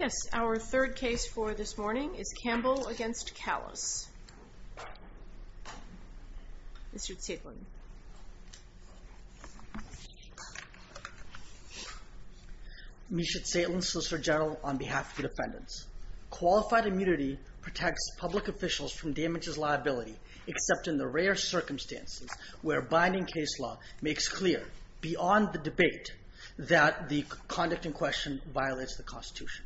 Yes, our third case for this morning is Campbell v. Kallas. Mr. Zaitlin. Misha Zaitlin, Solicitor General, on behalf of the defendants. Qualified immunity protects public officials from damages liability except in the rare circumstances where binding case law makes clear, beyond the debate, that the conduct in question violates the Constitution.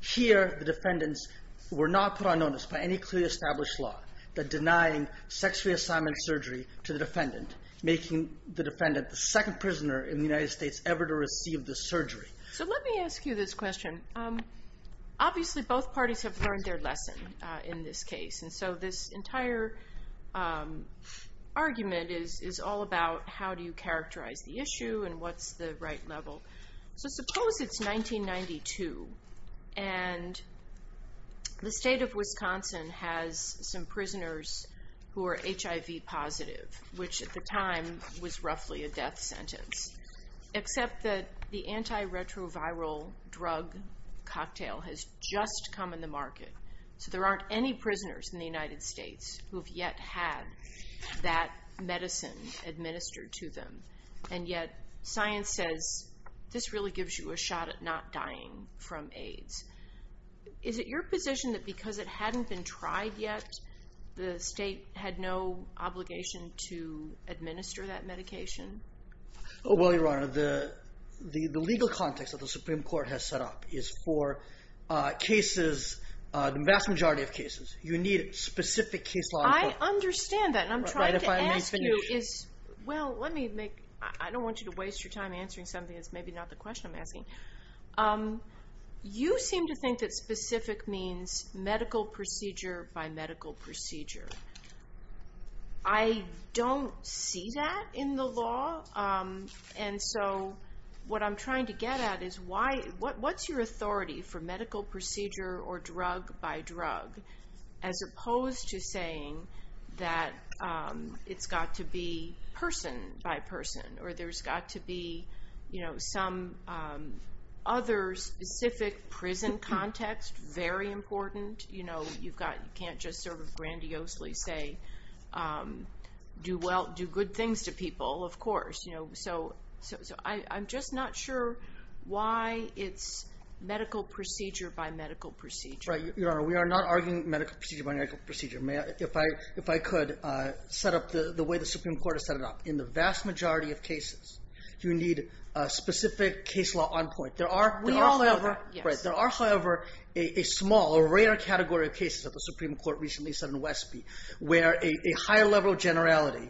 Here the defendants were not put on notice by any clearly established law that denying sex reassignment surgery to the defendant, making the defendant the second prisoner in the United States ever to receive this surgery. So let me ask you this question. Obviously both parties have learned their lesson in this case, and so this entire argument is all about how do you characterize the issue and what's the right level. So suppose it's 1992, and the state of Wisconsin has some prisoners who are HIV positive, which at the time was roughly a death sentence, except that the antiretroviral drug cocktail has just come in the market. So there aren't any prisoners in the United States who have yet had that medicine administered to them, and yet science says this really gives you a shot at not dying from AIDS. Is it your position that because it hadn't been tried yet, the state had no obligation to administer that medication? Well, Your Honor, the legal context that the Supreme Court has set up is for cases, the vast majority of cases, you need specific case law. I understand that, and I'm trying to ask you is, well, let me make, I don't want you to waste your time answering something that's maybe not the question I'm asking. You seem to think that specific means medical procedure by medical procedure. I don't see that in the law, and so what I'm trying to get at is what's your authority for medical procedure or drug by drug, as opposed to saying that it's got to be person by person, or there's got to be some other specific prison context, very important. You can't just sort of grandiosely say, do good things to people, of course. So I'm just not sure why it's medical procedure by medical procedure. Right, Your Honor, we are not arguing medical procedure by medical procedure. If I could set up the way the Supreme Court has set it up. In the vast majority of cases, you need a specific case law on point. There are, however, a small, a rare category of cases that the higher level generality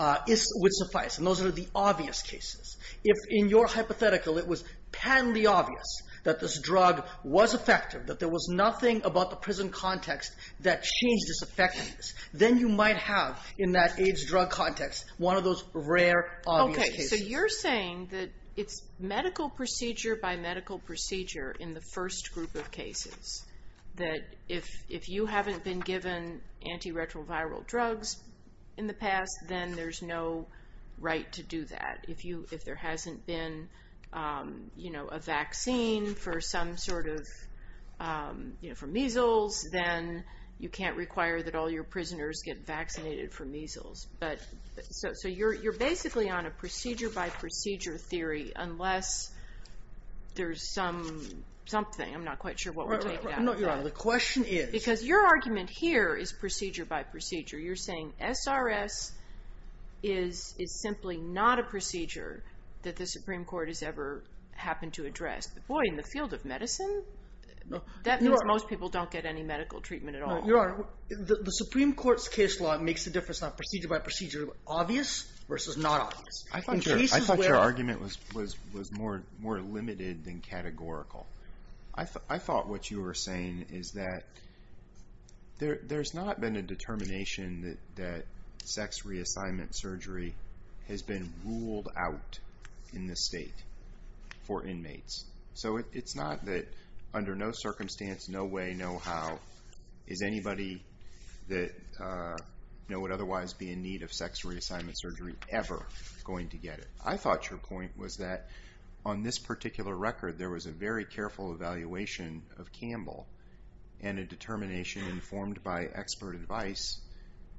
would suffice, and those are the obvious cases. If in your hypothetical it was patently obvious that this drug was effective, that there was nothing about the prison context that changed its effectiveness, then you might have, in that AIDS drug context, one of those rare, obvious cases. Okay, so you're saying that it's medical procedure by medical procedure in the first group of cases, that if you haven't been given antiretroviral drugs in the past, then there's no right to do that. If there hasn't been a vaccine for some sort of, for measles, then you can't require that all your prisoners get vaccinated for measles. So you're basically on a procedure by procedure theory, unless there's something. I'm not quite sure what we're talking about here. No, Your Honor, the question is... Because your argument here is procedure by procedure. You're saying SRS is simply not a procedure that the Supreme Court has ever happened to address. Boy, in the field of medicine, that means most people don't get any medical treatment at all. No, Your Honor, the Supreme Court's case law makes the difference on procedure by procedure obvious versus not obvious. I thought your argument was more limited than categorical. I thought what you were saying is that there's not been a determination that sex reassignment surgery has been ruled out in this state for inmates. So it's not that under no circumstance, no way, no how, is sex reassignment surgery ever going to get it. I thought your point was that on this particular record, there was a very careful evaluation of Campbell and a determination informed by expert advice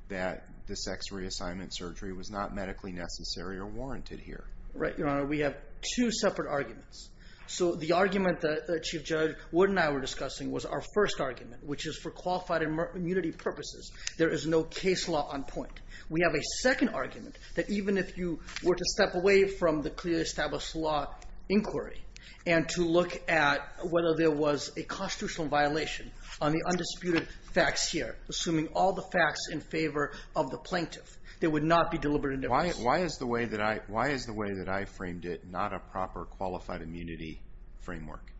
that the sex reassignment surgery was not medically necessary or warranted here. Right, Your Honor, we have two separate arguments. So the argument that Chief Judge Wood and I were discussing was our first argument, which is for qualified immunity purposes, there is no case law on point. We have a second argument that even if you were to step away from the clearly established law inquiry and to look at whether there was a constitutional violation on the undisputed facts here, assuming all the facts in favor of the plaintiff, there would not be deliberate indifference. Why is the way that I framed it not a proper qualified immunity framework?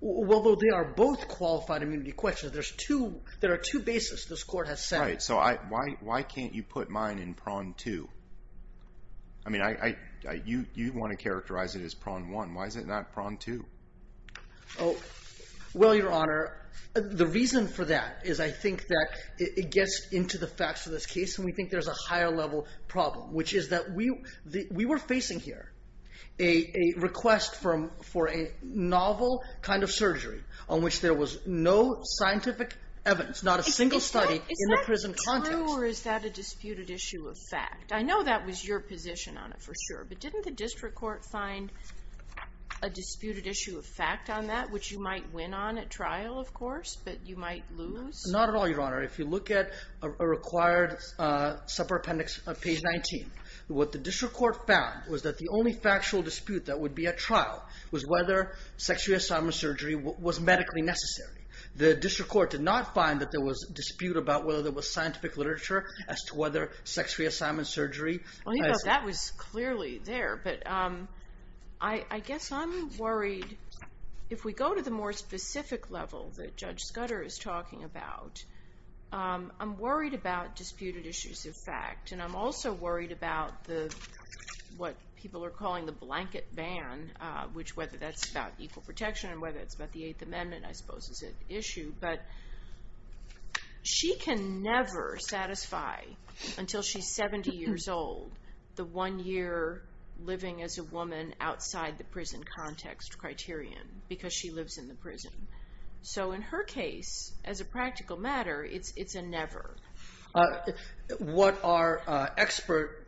Well, they are both qualified immunity questions. There are two bases this court has set. Right, so why can't you put mine in prong two? I mean, you want to characterize it as prong one. Why is it not prong two? Well, Your Honor, the reason for that is I think that it gets into the facts of this case and we think there's a higher level problem, which is that we were facing here a request for a novel kind of surgery on which there was no scientific evidence, not a single study in the prison context. Is that true or is that a disputed issue of fact? I know that was your position on it for sure, but didn't the district court find a disputed issue of fact on that, which you might win on at trial, of course, but you might lose? Not at all, Your Honor. If you look at a required separate appendix on page 19, what the district court found was that the only factual dispute that would be at trial was whether sex reassignment surgery was medically necessary. The district court did not find that there was dispute about whether there was scientific literature as to whether sex reassignment surgery... Well, you know, that was clearly there, but I guess I'm worried if we go to the more specific level that Judge Scudder is talking about, I'm worried about disputed issues of fact and I'm also worried about what people are calling the blanket ban, which whether that's about equal protection and whether it's about the Eighth Amendment, I suppose, is at issue, but she can never satisfy, until she's 70 years old, the one year living as a woman outside the prison context criterion because she lives in the prison. So in her case, as a practical matter, it's a never. What our expert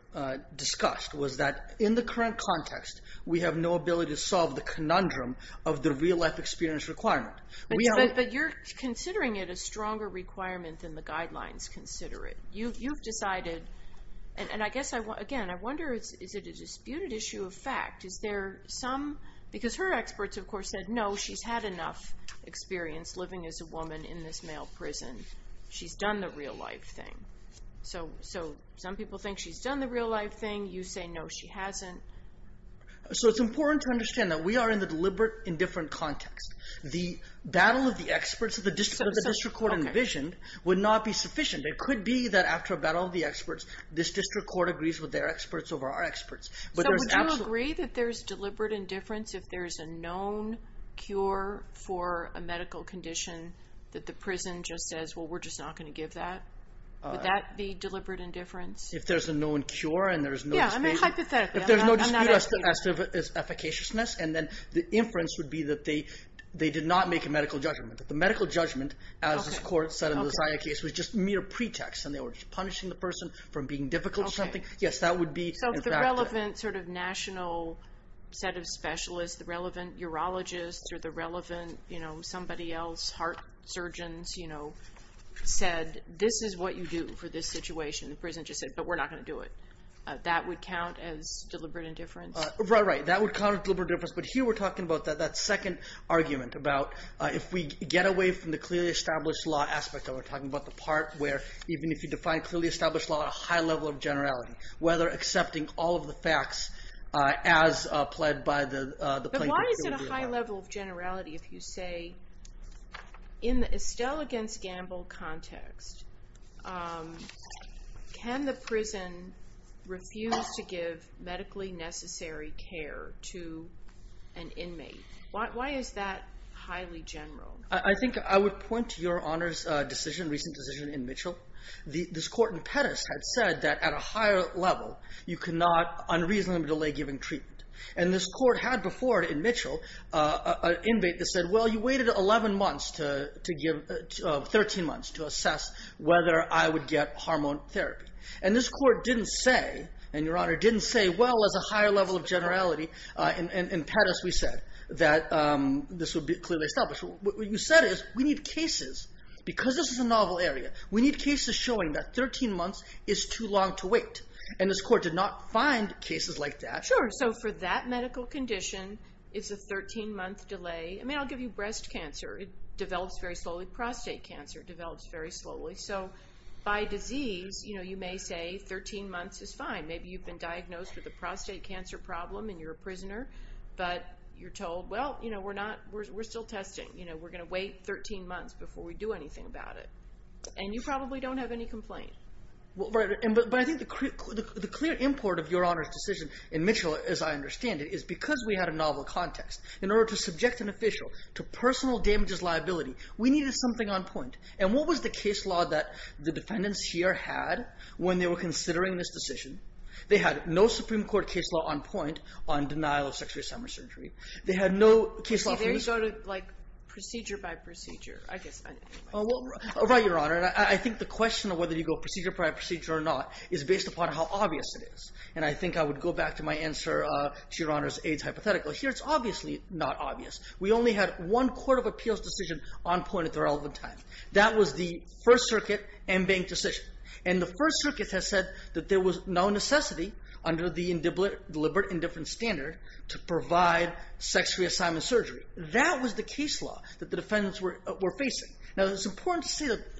discussed was that, in the current context, we have no ability to solve the conundrum of the real-life experience requirement. But you're considering it a stronger requirement than the guidelines consider it. You've decided, and I guess, again, I wonder, is it a disputed issue of fact? Is there some, because her experts, of course, said, no, she's had enough experience living as a woman in this male prison. She's done the real-life thing. So some people think she's done the real-life thing. You say, no, she hasn't. So it's important to understand that we are in the deliberate-indifferent context. The battle of the experts that the district court envisioned would not be sufficient. It could be that after a battle of the experts, this district court agrees with their experts over our experts. So would you agree that there's deliberate indifference if there's a known cure for a medical condition that the prison just says, well, we're just not going to give that? Would that be deliberate indifference? If there's a known cure and there's no dispute. Yeah, I mean, hypothetically. I'm not educated. If there's no dispute as to efficaciousness, and then the inference would be that they did not make a medical judgment. The medical judgment, as this court said in the Zaya case, was just mere pretext. And they were just punishing the person for being difficult or something. So if the relevant national set of specialists, the relevant urologists, or the relevant somebody else, heart surgeons, said, this is what you do for this situation. The prison just said, but we're not going to do it. That would count as deliberate indifference? Right, that would count as deliberate indifference. But here we're talking about that second argument about if we get away from the clearly established law aspect. We're talking about the part where even if you define clearly established law at a high level of generality. Whether accepting all of the facts as pled by the plaintiff. But why is it a high level of generality if you say, in the Estelle against Gamble context, can the prison refuse to give medically necessary care to an inmate? Why is that highly general? I think I would point to your Honor's decision, recent decision in Mitchell. This court in Pettis had said that at a higher level, you cannot unreasonably delay giving treatment. And this court had before it in Mitchell an inmate that said, well you waited 11 months to give, 13 months to assess whether I would get hormone therapy. And this court didn't say, and your Honor didn't say, well as a higher level of generality. In Pettis we said that this would be clearly established. What you said is, we need cases. Because this is a novel area, we need cases showing that 13 months is too long to wait. And this court did not find cases like that. Sure, so for that medical condition, it's a 13 month delay. I mean I'll give you breast cancer, it develops very slowly. Prostate cancer develops very slowly. So by disease, you may say 13 months is fine. But you're told, well we're still testing. We're going to wait 13 months before we do anything about it. And you probably don't have any complaint. But I think the clear import of your Honor's decision in Mitchell, as I understand it, is because we had a novel context. In order to subject an official to personal damages liability, we needed something on point. And what was the case law that the defendants here had when they were considering this decision? They had no Supreme Court case law on point on denial of sex reassignment surgery. They had no case law for this. See there you go to like procedure by procedure. I guess I didn't quite get that. Right, Your Honor. And I think the question of whether you go procedure by procedure or not is based upon how obvious it is. And I think I would go back to my answer to Your Honor's AIDS hypothetical. Here it's obviously not obvious. We only had one court of appeals decision on point at the relevant time. That was the First Circuit and Bank decision. And the First Circuit has said that there was no necessity under the deliberate indifference standard to provide sex reassignment surgery. That was the case law that the defendants were facing. Now it's important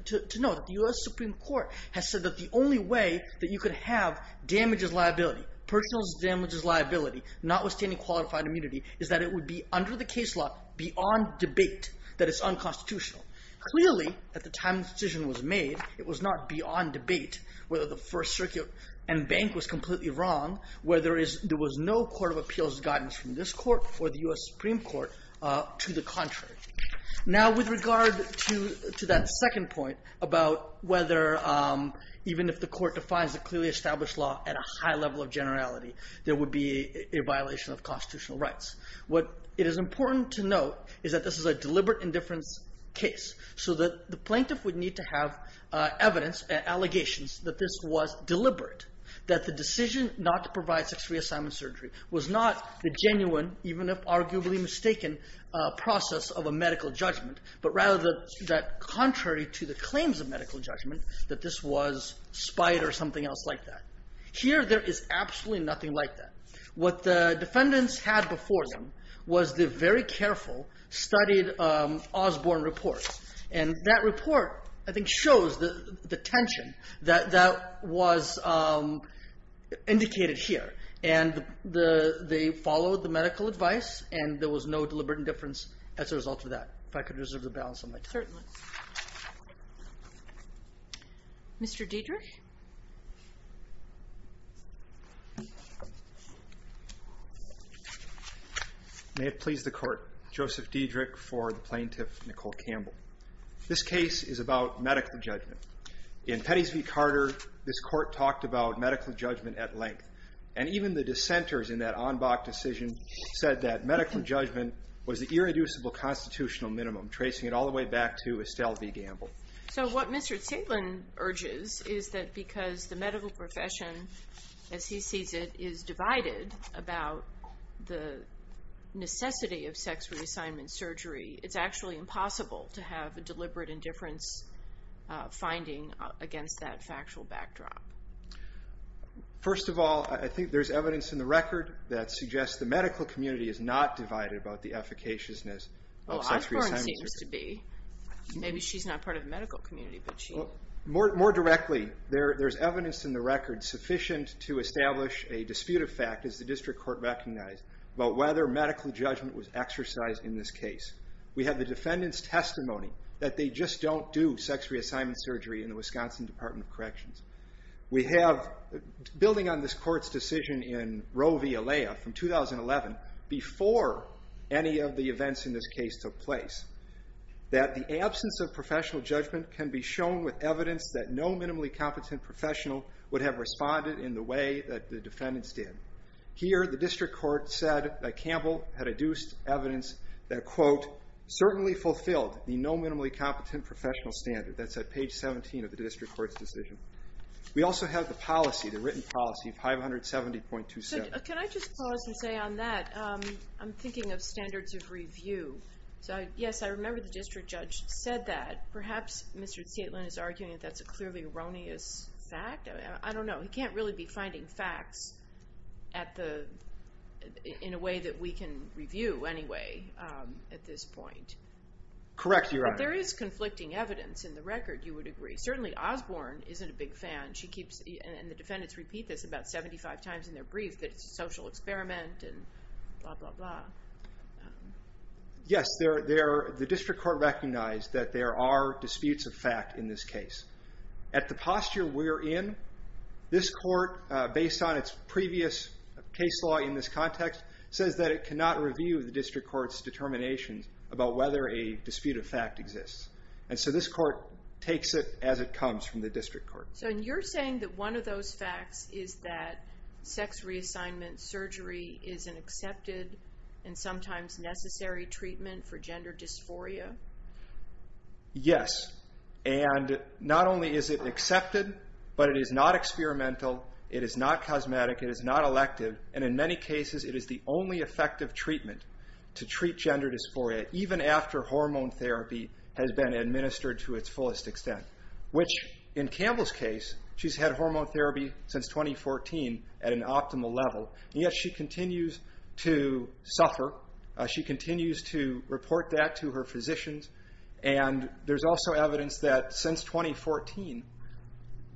to know that the U.S. Supreme Court has said that the only way that you could have damages liability, personal damages liability, notwithstanding qualified immunity, is that it would be under the case law beyond debate, that it's unconstitutional. Clearly at the time the decision was made, it was not beyond debate whether the First Circuit and Bank was completely wrong, whether there was no court of appeals guidance from this court or the U.S. Supreme Court to the contrary. Now with regard to that second point about whether even if the court defines a clearly established law at a high level of generality, there would be a violation of constitutional rights. What is important to note is that this is a deliberate indifference case. So that the plaintiff would need to have evidence, allegations, that this was deliberate. That the decision not to provide sex reassignment surgery was not the genuine, even if arguably mistaken, process of a medical judgment, but rather that contrary to the claims of medical judgment, that this was spite or something else like that. Here there is absolutely nothing like that. What the defendants had before them was the very careful, studied Osborne report. And that report, I think, shows the tension that was indicated here. And they followed the medical advice, and there was no deliberate indifference as a result of that. If I could reserve the balance of my time. Certainly. Mr. Diedrich? May it please the Court. Joseph Diedrich for the plaintiff, Nicole Campbell. This case is about medical judgment. In Pettys v. Carter, this court talked about medical judgment at length. And even the dissenters in that Anbach decision said that medical judgment was the irreducible constitutional minimum, tracing it all the way back to Estelle v. Gamble. So what Mr. Tselin urges is that because the medical profession, as he sees it, is divided about the necessity of sex reassignment surgery, it's actually impossible to have a deliberate indifference finding against that factual backdrop. First of all, I think there's evidence in the record that suggests the medical community is not divided about the efficaciousness of sex reassignment surgery. Well, Osborne seems to be. Maybe she's not part of the medical community. More directly, there's evidence in the record sufficient to establish a dispute of fact, as the district court recognized, about whether medical judgment was exercised in this case. We have the defendant's testimony that they just don't do sex reassignment surgery in the Wisconsin Department of Corrections. We have, building on this court's decision in Roe v. Alea from 2011, before any of the events in this case took place, that the absence of professional judgment can be shown with evidence that no minimally competent professional would have responded in the way that the defendants did. Here, the district court said that Gamble had adduced evidence that, quote, certainly fulfilled the no minimally competent professional standard. That's at page 17 of the district court's decision. We also have the policy, the written policy, 570.27. Can I just pause and say on that, I'm thinking of standards of review. Yes, I remember the district judge said that. Perhaps Mr. Staitland is arguing that that's a clearly erroneous fact. I don't know. He can't really be finding facts in a way that we can review anyway at this point. Correct, Your Honor. But there is conflicting evidence in the record, you would agree. Certainly Osborne isn't a big fan. She keeps, and the defendants repeat this about 75 times in their brief, that it's a social experiment and blah, blah, blah. Yes, the district court recognized that there are disputes of fact in this case. At the posture we're in, this court, based on its previous case law in this context, says that it cannot review the district court's determination about whether a dispute of fact exists. And so this court takes it as it comes from the district court. So you're saying that one of those facts is that sex reassignment surgery is an accepted and sometimes necessary treatment for gender dysphoria? Yes, and not only is it accepted, but it is not experimental, it is not cosmetic, it is not elective, and in many cases it is the only effective treatment to treat gender dysphoria, even after hormone therapy has been administered to its fullest extent, which in Campbell's case, she's had hormone therapy since 2014 at an optimal level. And yet she continues to suffer, she continues to report that to her physicians, and there's also evidence that since 2014,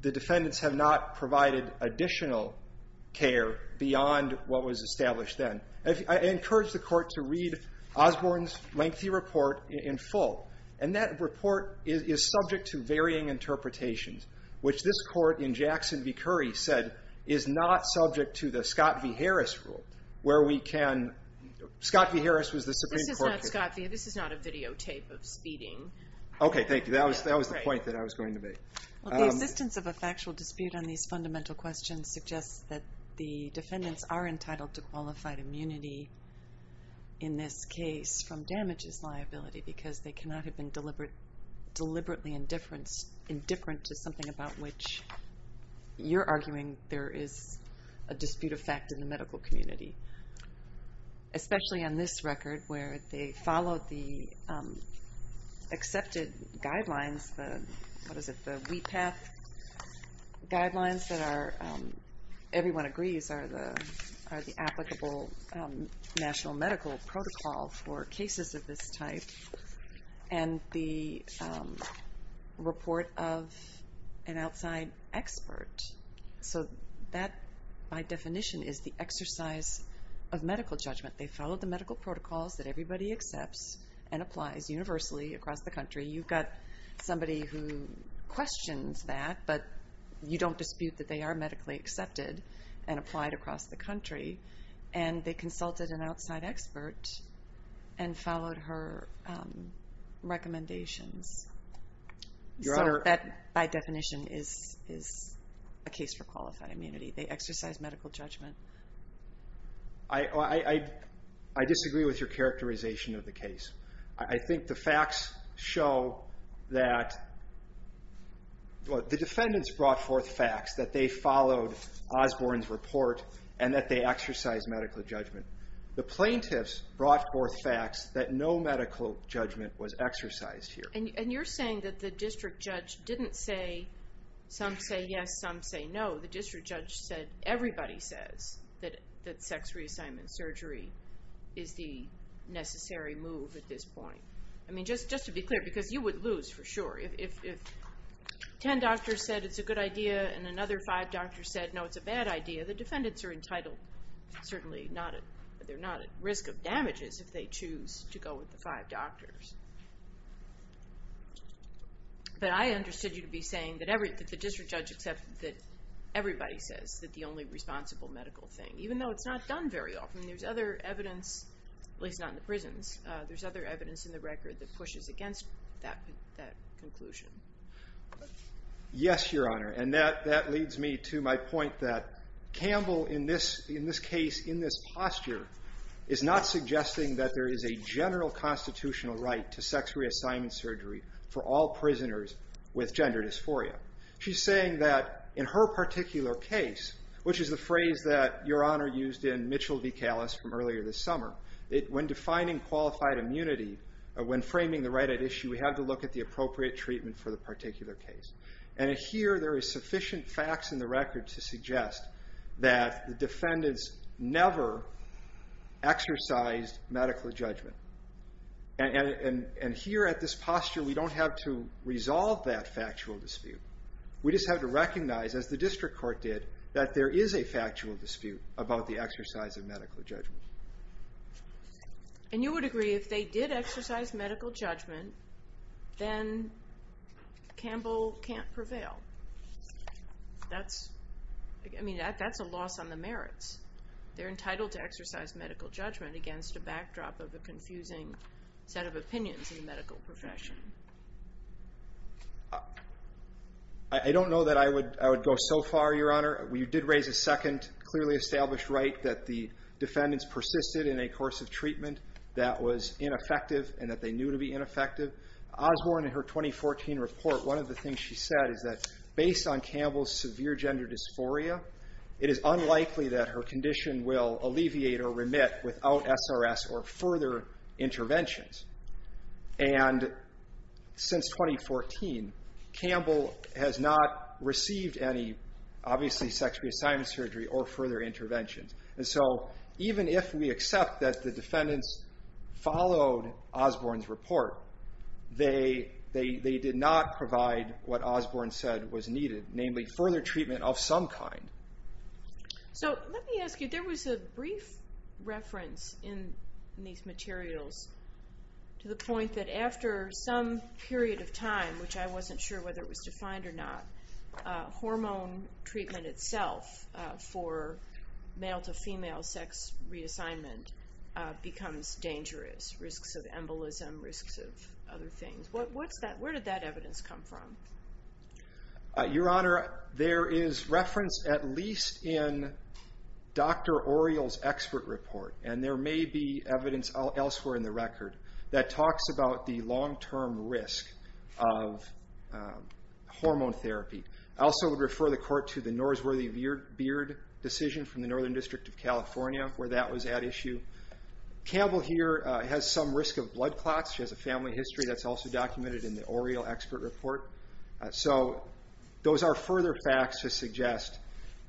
the defendants have not provided additional care beyond what was established then. I encourage the court to read Osborne's lengthy report in full, and that report is subject to varying interpretations, which this court in Jackson v. Curry said is not subject to the Scott v. Harris rule, where we can... Scott v. Harris was the Supreme Court... This is not a videotape of speeding. Okay, thank you, that was the point that I was going to make. The existence of a factual dispute on these fundamental questions suggests that the defendants are entitled to qualified immunity, in this case, from damages liability, because they cannot have been deliberately indifferent to something about which you're arguing there is a dispute of fact in the medical community. Especially on this record, where they followed the accepted guidelines, the WePath guidelines that everyone agrees are the applicable national medical protocol for cases of this type, and the report of an outside expert. So that, by definition, is the exercise of medical judgment. They followed the medical protocols that everybody accepts and applies universally across the country. You've got somebody who questions that, but you don't dispute that they are medically accepted and applied across the country. And they consulted an outside expert and followed her recommendations. So that, by definition, is a case for qualified immunity. They exercise medical judgment. I disagree with your characterization of the case. I think the facts show that... The defendants brought forth facts that they followed Osborne's report and that they exercised medical judgment. The plaintiffs brought forth facts that no medical judgment was exercised here. And you're saying that the district judge didn't say, some say yes, some say no. The district judge said, everybody says that sex reassignment surgery is the necessary move at this point. I mean, just to be clear, because you would lose for sure. If ten doctors said it's a good idea and another five doctors said, no, it's a bad idea, the defendants are entitled, certainly they're not at risk of damages if they choose to go with the five doctors. But I understood you to be saying that the district judge accepted that everybody says that the only responsible medical thing, even though it's not done very often. There's other evidence, at least not in the prisons, there's other evidence in the record that pushes against that conclusion. Yes, Your Honor. And that leads me to my point that Campbell, in this case, in this posture, is not suggesting that there is a general constitutional right to sex reassignment surgery for all prisoners with gender dysphoria. She's saying that in her particular case, which is the phrase that Your Honor used in Mitchell v. Callis from earlier this summer, when defining qualified immunity, when framing the right at issue, we have to look at the appropriate treatment for the particular case. And here there is sufficient facts in the record to suggest that the defendants never exercised medical judgment. And here at this posture, we don't have to resolve that factual dispute. We just have to recognize, as the district court did, that there is a factual dispute about the exercise of medical judgment. And you would agree if they did exercise medical judgment, then Campbell can't prevail. That's a loss on the merits. They're entitled to exercise medical judgment against a backdrop of a confusing set of opinions in the medical profession. I don't know that I would go so far, Your Honor. You did raise a second clearly established right that the defendants persisted in a course of treatment that was ineffective and that they knew to be ineffective. Osborne, in her 2014 report, one of the things she said is that based on Campbell's severe gender dysphoria, it is unlikely that her condition will alleviate or remit without SRS or further interventions. And since 2014, Campbell has not received any, obviously, sex reassignment surgery or further interventions. And so even if we accept that the defendants followed Osborne's report, they did not provide what Osborne said was needed, namely further treatment of some kind. So let me ask you, there was a brief reference in these materials to the point that after some period of time, which I wasn't sure whether it was defined or not, that hormone treatment itself for male-to-female sex reassignment becomes dangerous, risks of embolism, risks of other things. Where did that evidence come from? Your Honor, there is reference at least in Dr. Oriel's expert report, and there may be evidence elsewhere in the record, that talks about the long-term risk of hormone therapy. I also would refer the Court to the Norsworthy Beard decision from the Northern District of California, where that was at issue. Campbell here has some risk of blood clots. She has a family history that's also documented in the Oriel expert report. So those are further facts to suggest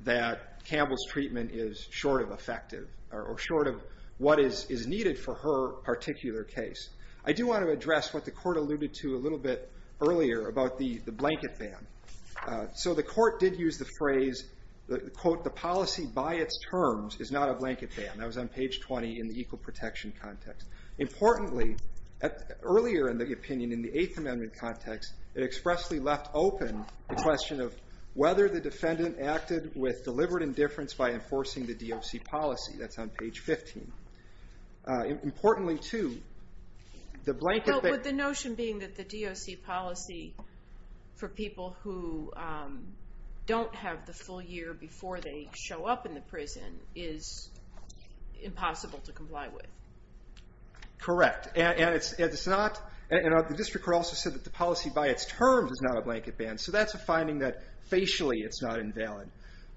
that Campbell's treatment is short of effective or short of what is needed for her particular case. I do want to address what the Court alluded to a little bit earlier about the blanket ban. So the Court did use the phrase, quote, the policy by its terms is not a blanket ban. That was on page 20 in the equal protection context. Importantly, earlier in the opinion in the Eighth Amendment context, it expressly left open the question of whether the defendant acted with deliberate indifference by enforcing the DOC policy. That's on page 15. Importantly, too, the blanket ban... But the notion being that the DOC policy for people who don't have the full year before they show up in the prison is impossible to comply with. Correct. And the District Court also said that the policy by its terms is not a blanket ban. So that's a finding that facially it's not invalid.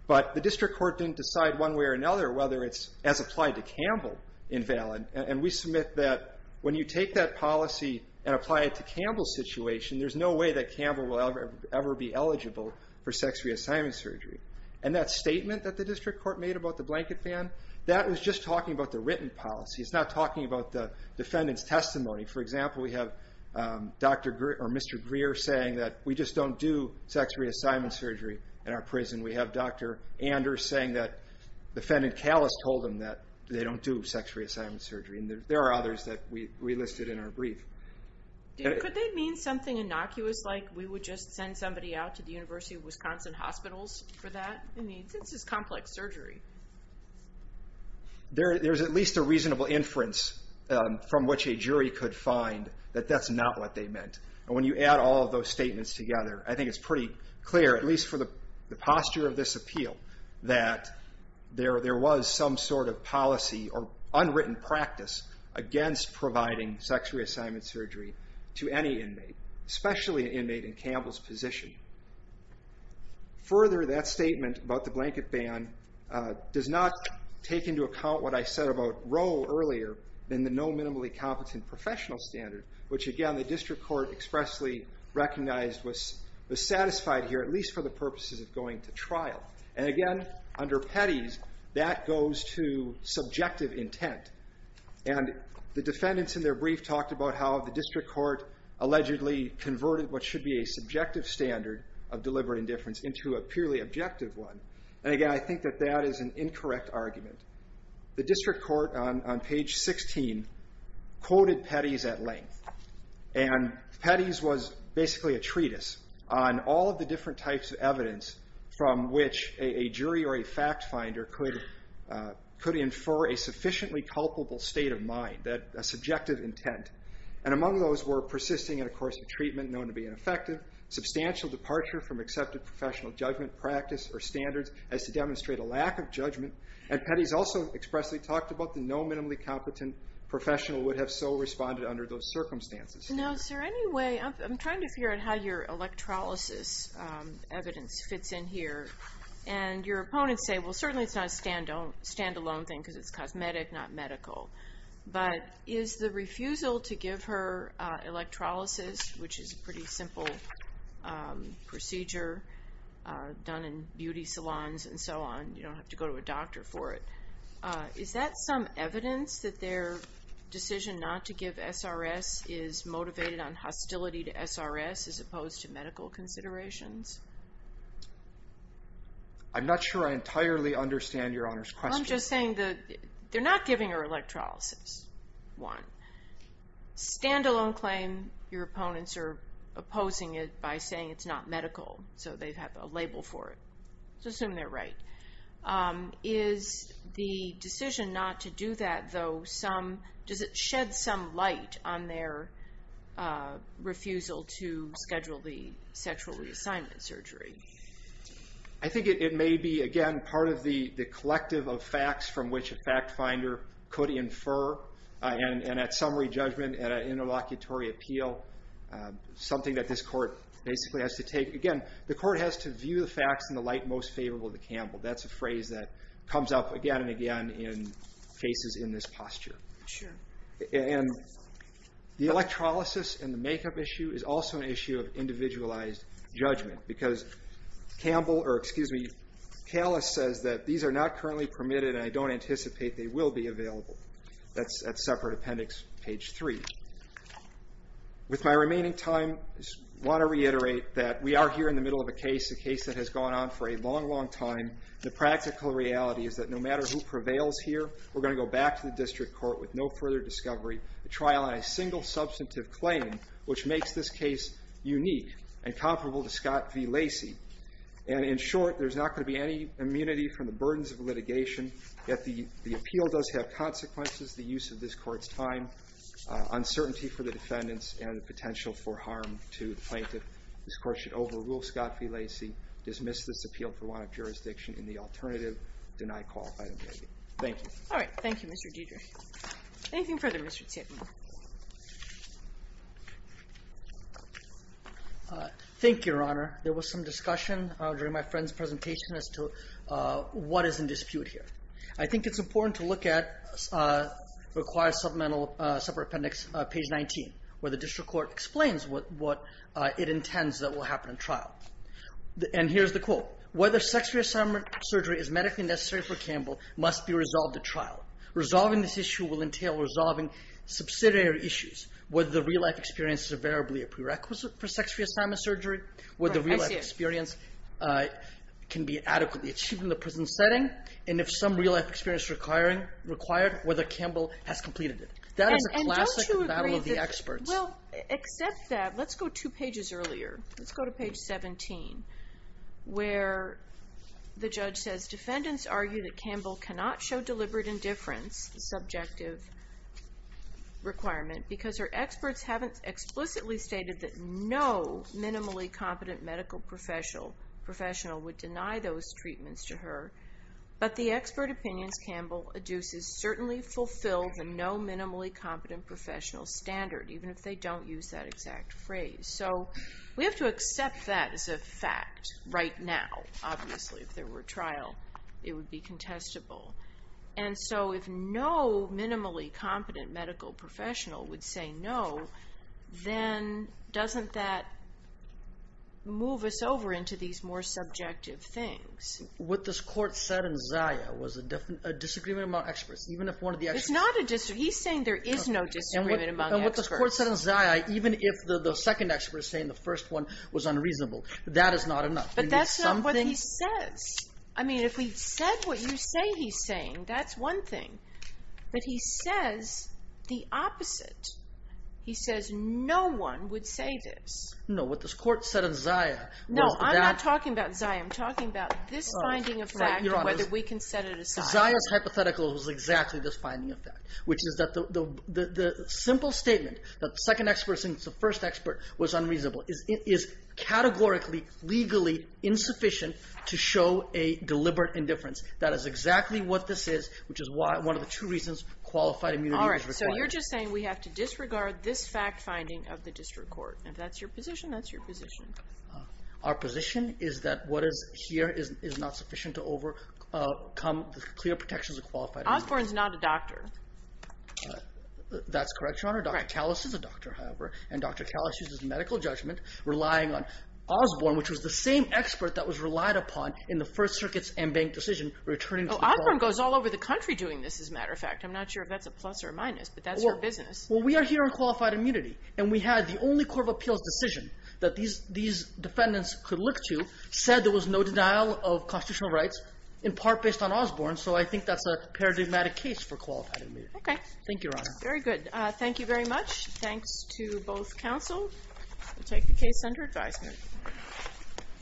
But the District Court didn't decide one way or another whether it's, as applied to Campbell, invalid. And we submit that when you take that policy and apply it to Campbell's situation, there's no way that Campbell will ever be eligible for sex reassignment surgery. And that statement that the District Court made about the blanket ban, that was just talking about the written policy. It's not talking about the defendant's testimony. For example, we have Mr. Greer saying that we just don't do sex reassignment surgery in our prison. We have Dr. Anders saying that defendant Callis told him that they don't do sex reassignment surgery. And there are others that we listed in our brief. Could they mean something innocuous, like we would just send somebody out to the University of Wisconsin hospitals for that? I mean, this is complex surgery. There's at least a reasonable inference from which a jury could find that that's not what they meant. And when you add all of those statements together, I think it's pretty clear, at least for the posture of this appeal, that there was some sort of policy or unwritten practice against providing sex reassignment surgery to any inmate, especially an inmate in Campbell's position. Further, that statement about the blanket ban does not take into account what I said about Roe earlier, in the no minimally competent professional standard, which again the district court expressly recognized was satisfied here, at least for the purposes of going to trial. And again, under Petty's, that goes to subjective intent. And the defendants in their brief talked about how the district court allegedly converted what should be a subjective standard of deliberate indifference into a purely objective one. And again, I think that that is an incorrect argument. The district court on page 16 quoted Petty's at length. And Petty's was basically a treatise on all of the different types of evidence from which a jury or a fact finder could infer a sufficiently culpable state of mind, a subjective intent. And among those were persisting in a course of treatment known to be ineffective, substantial departure from accepted professional judgment practice or standards as to demonstrate a lack of judgment. And Petty's also expressly talked about the no minimally competent professional would have so responded under those circumstances. No, sir. Anyway, I'm trying to figure out how your electrolysis evidence fits in here. And your opponents say, well, certainly it's not a stand-alone thing because it's cosmetic, not medical. But is the refusal to give her electrolysis, which is a pretty simple procedure done in beauty salons and so on, you don't have to go to a doctor for it. Is that some evidence that their decision not to give SRS is motivated on hostility to SRS as opposed to medical considerations? I'm not sure I entirely understand Your Honor's question. Well, I'm just saying they're not giving her electrolysis, one. Stand-alone claim, your opponents are opposing it by saying it's not medical so they have a label for it. Let's assume they're right. Is the decision not to do that, though, does it shed some light on their refusal to schedule the sexual reassignment surgery? I think it may be, again, part of the collective of facts from which a fact finder could infer, and at summary judgment, at an interlocutory appeal, something that this court basically has to take. Again, the court has to view the facts in the light most favorable to Campbell. That's a phrase that comes up again and again in cases in this posture. And the electrolysis and the makeup issue is also an issue of individualized judgment because Callis says that these are not currently permitted and I don't anticipate they will be available. That's at separate appendix, page 3. With my remaining time, I want to reiterate that we are here in the middle of a case, a case that has gone on for a long, long time. The practical reality is that no matter who prevails here, we're going to go back to the district court with no further discovery, a trial on a single substantive claim, which makes this case unique and comparable to Scott v. Lacey. And in short, there's not going to be any immunity from the burdens of litigation, yet the appeal does have consequences, the use of this court's time, uncertainty for the defendants, and the potential for harm to the plaintiff. This court should overrule Scott v. Lacey, dismiss this appeal for want of jurisdiction, and the alternative, deny qualified obligation. Thank you. All right. Thank you, Mr. Deidre. Anything further, Mr. Titman? Thank you, Your Honor. There was some discussion during my friend's presentation as to what is in dispute here. I think it's important to look at required supplemental separate appendix, page 19, where the district court explains what it intends that will happen in trial. And here's the quote. Whether sex reassignment surgery is medically necessary for Campbell must be resolved at trial. Resolving this issue will entail resolving subsidiary issues, whether the real-life experience is invariably a prerequisite for sex reassignment surgery, whether the real-life experience can be adequately achieved in the prison setting, and if some real-life experience is required, whether Campbell has completed it. That is a classic battle of the experts. Well, except that, let's go two pages earlier. Let's go to page 17, where the judge says, Defendants argue that Campbell cannot show deliberate indifference, the subjective requirement, because her experts haven't explicitly stated that no minimally competent medical professional would deny those treatments to her, but the expert opinions Campbell adduces certainly fulfill the no minimally competent professional standard, even if they don't use that exact phrase. So we have to accept that as a fact right now, obviously. If there were trial, it would be contestable. And so if no minimally competent medical professional would say no, then doesn't that move us over into these more subjective things? What this court said in Zaya was a disagreement among experts. It's not a disagreement. He's saying there is no disagreement among experts. But what this court said in Zaya, even if the second expert is saying the first one was unreasonable, that is not enough. But that's not what he says. I mean, if he said what you say he's saying, that's one thing. But he says the opposite. He says no one would say this. No, what this court said in Zaya was that- No, I'm not talking about Zaya. I'm talking about this finding of fact and whether we can set it aside. Zaya's hypothetical was exactly this finding of fact, which is that the simple statement that the second expert thinks the first expert was unreasonable is categorically, legally insufficient to show a deliberate indifference. That is exactly what this is, which is one of the two reasons qualified immunity is required. All right. So you're just saying we have to disregard this fact finding of the district court. If that's your position, that's your position. Our position is that what is here is not sufficient to overcome the clear protections of qualified immunity. Osborne's not a doctor. That's correct, Your Honor. Dr. Kallis is a doctor, however, and Dr. Kallis uses medical judgment, relying on Osborne, which was the same expert that was relied upon in the First Circuit's en banc decision returning to the court. Osborne goes all over the country doing this, as a matter of fact. I'm not sure if that's a plus or a minus, but that's her business. Well, we are here on qualified immunity, and we had the only court of appeals decision that these defendants could look to said there was no denial of constitutional rights, in part based on Osborne. So I think that's a paradigmatic case for qualified immunity. Okay. Thank you, Your Honor. Very good. Thank you very much. Thanks to both counsel. We'll take the case under advisement.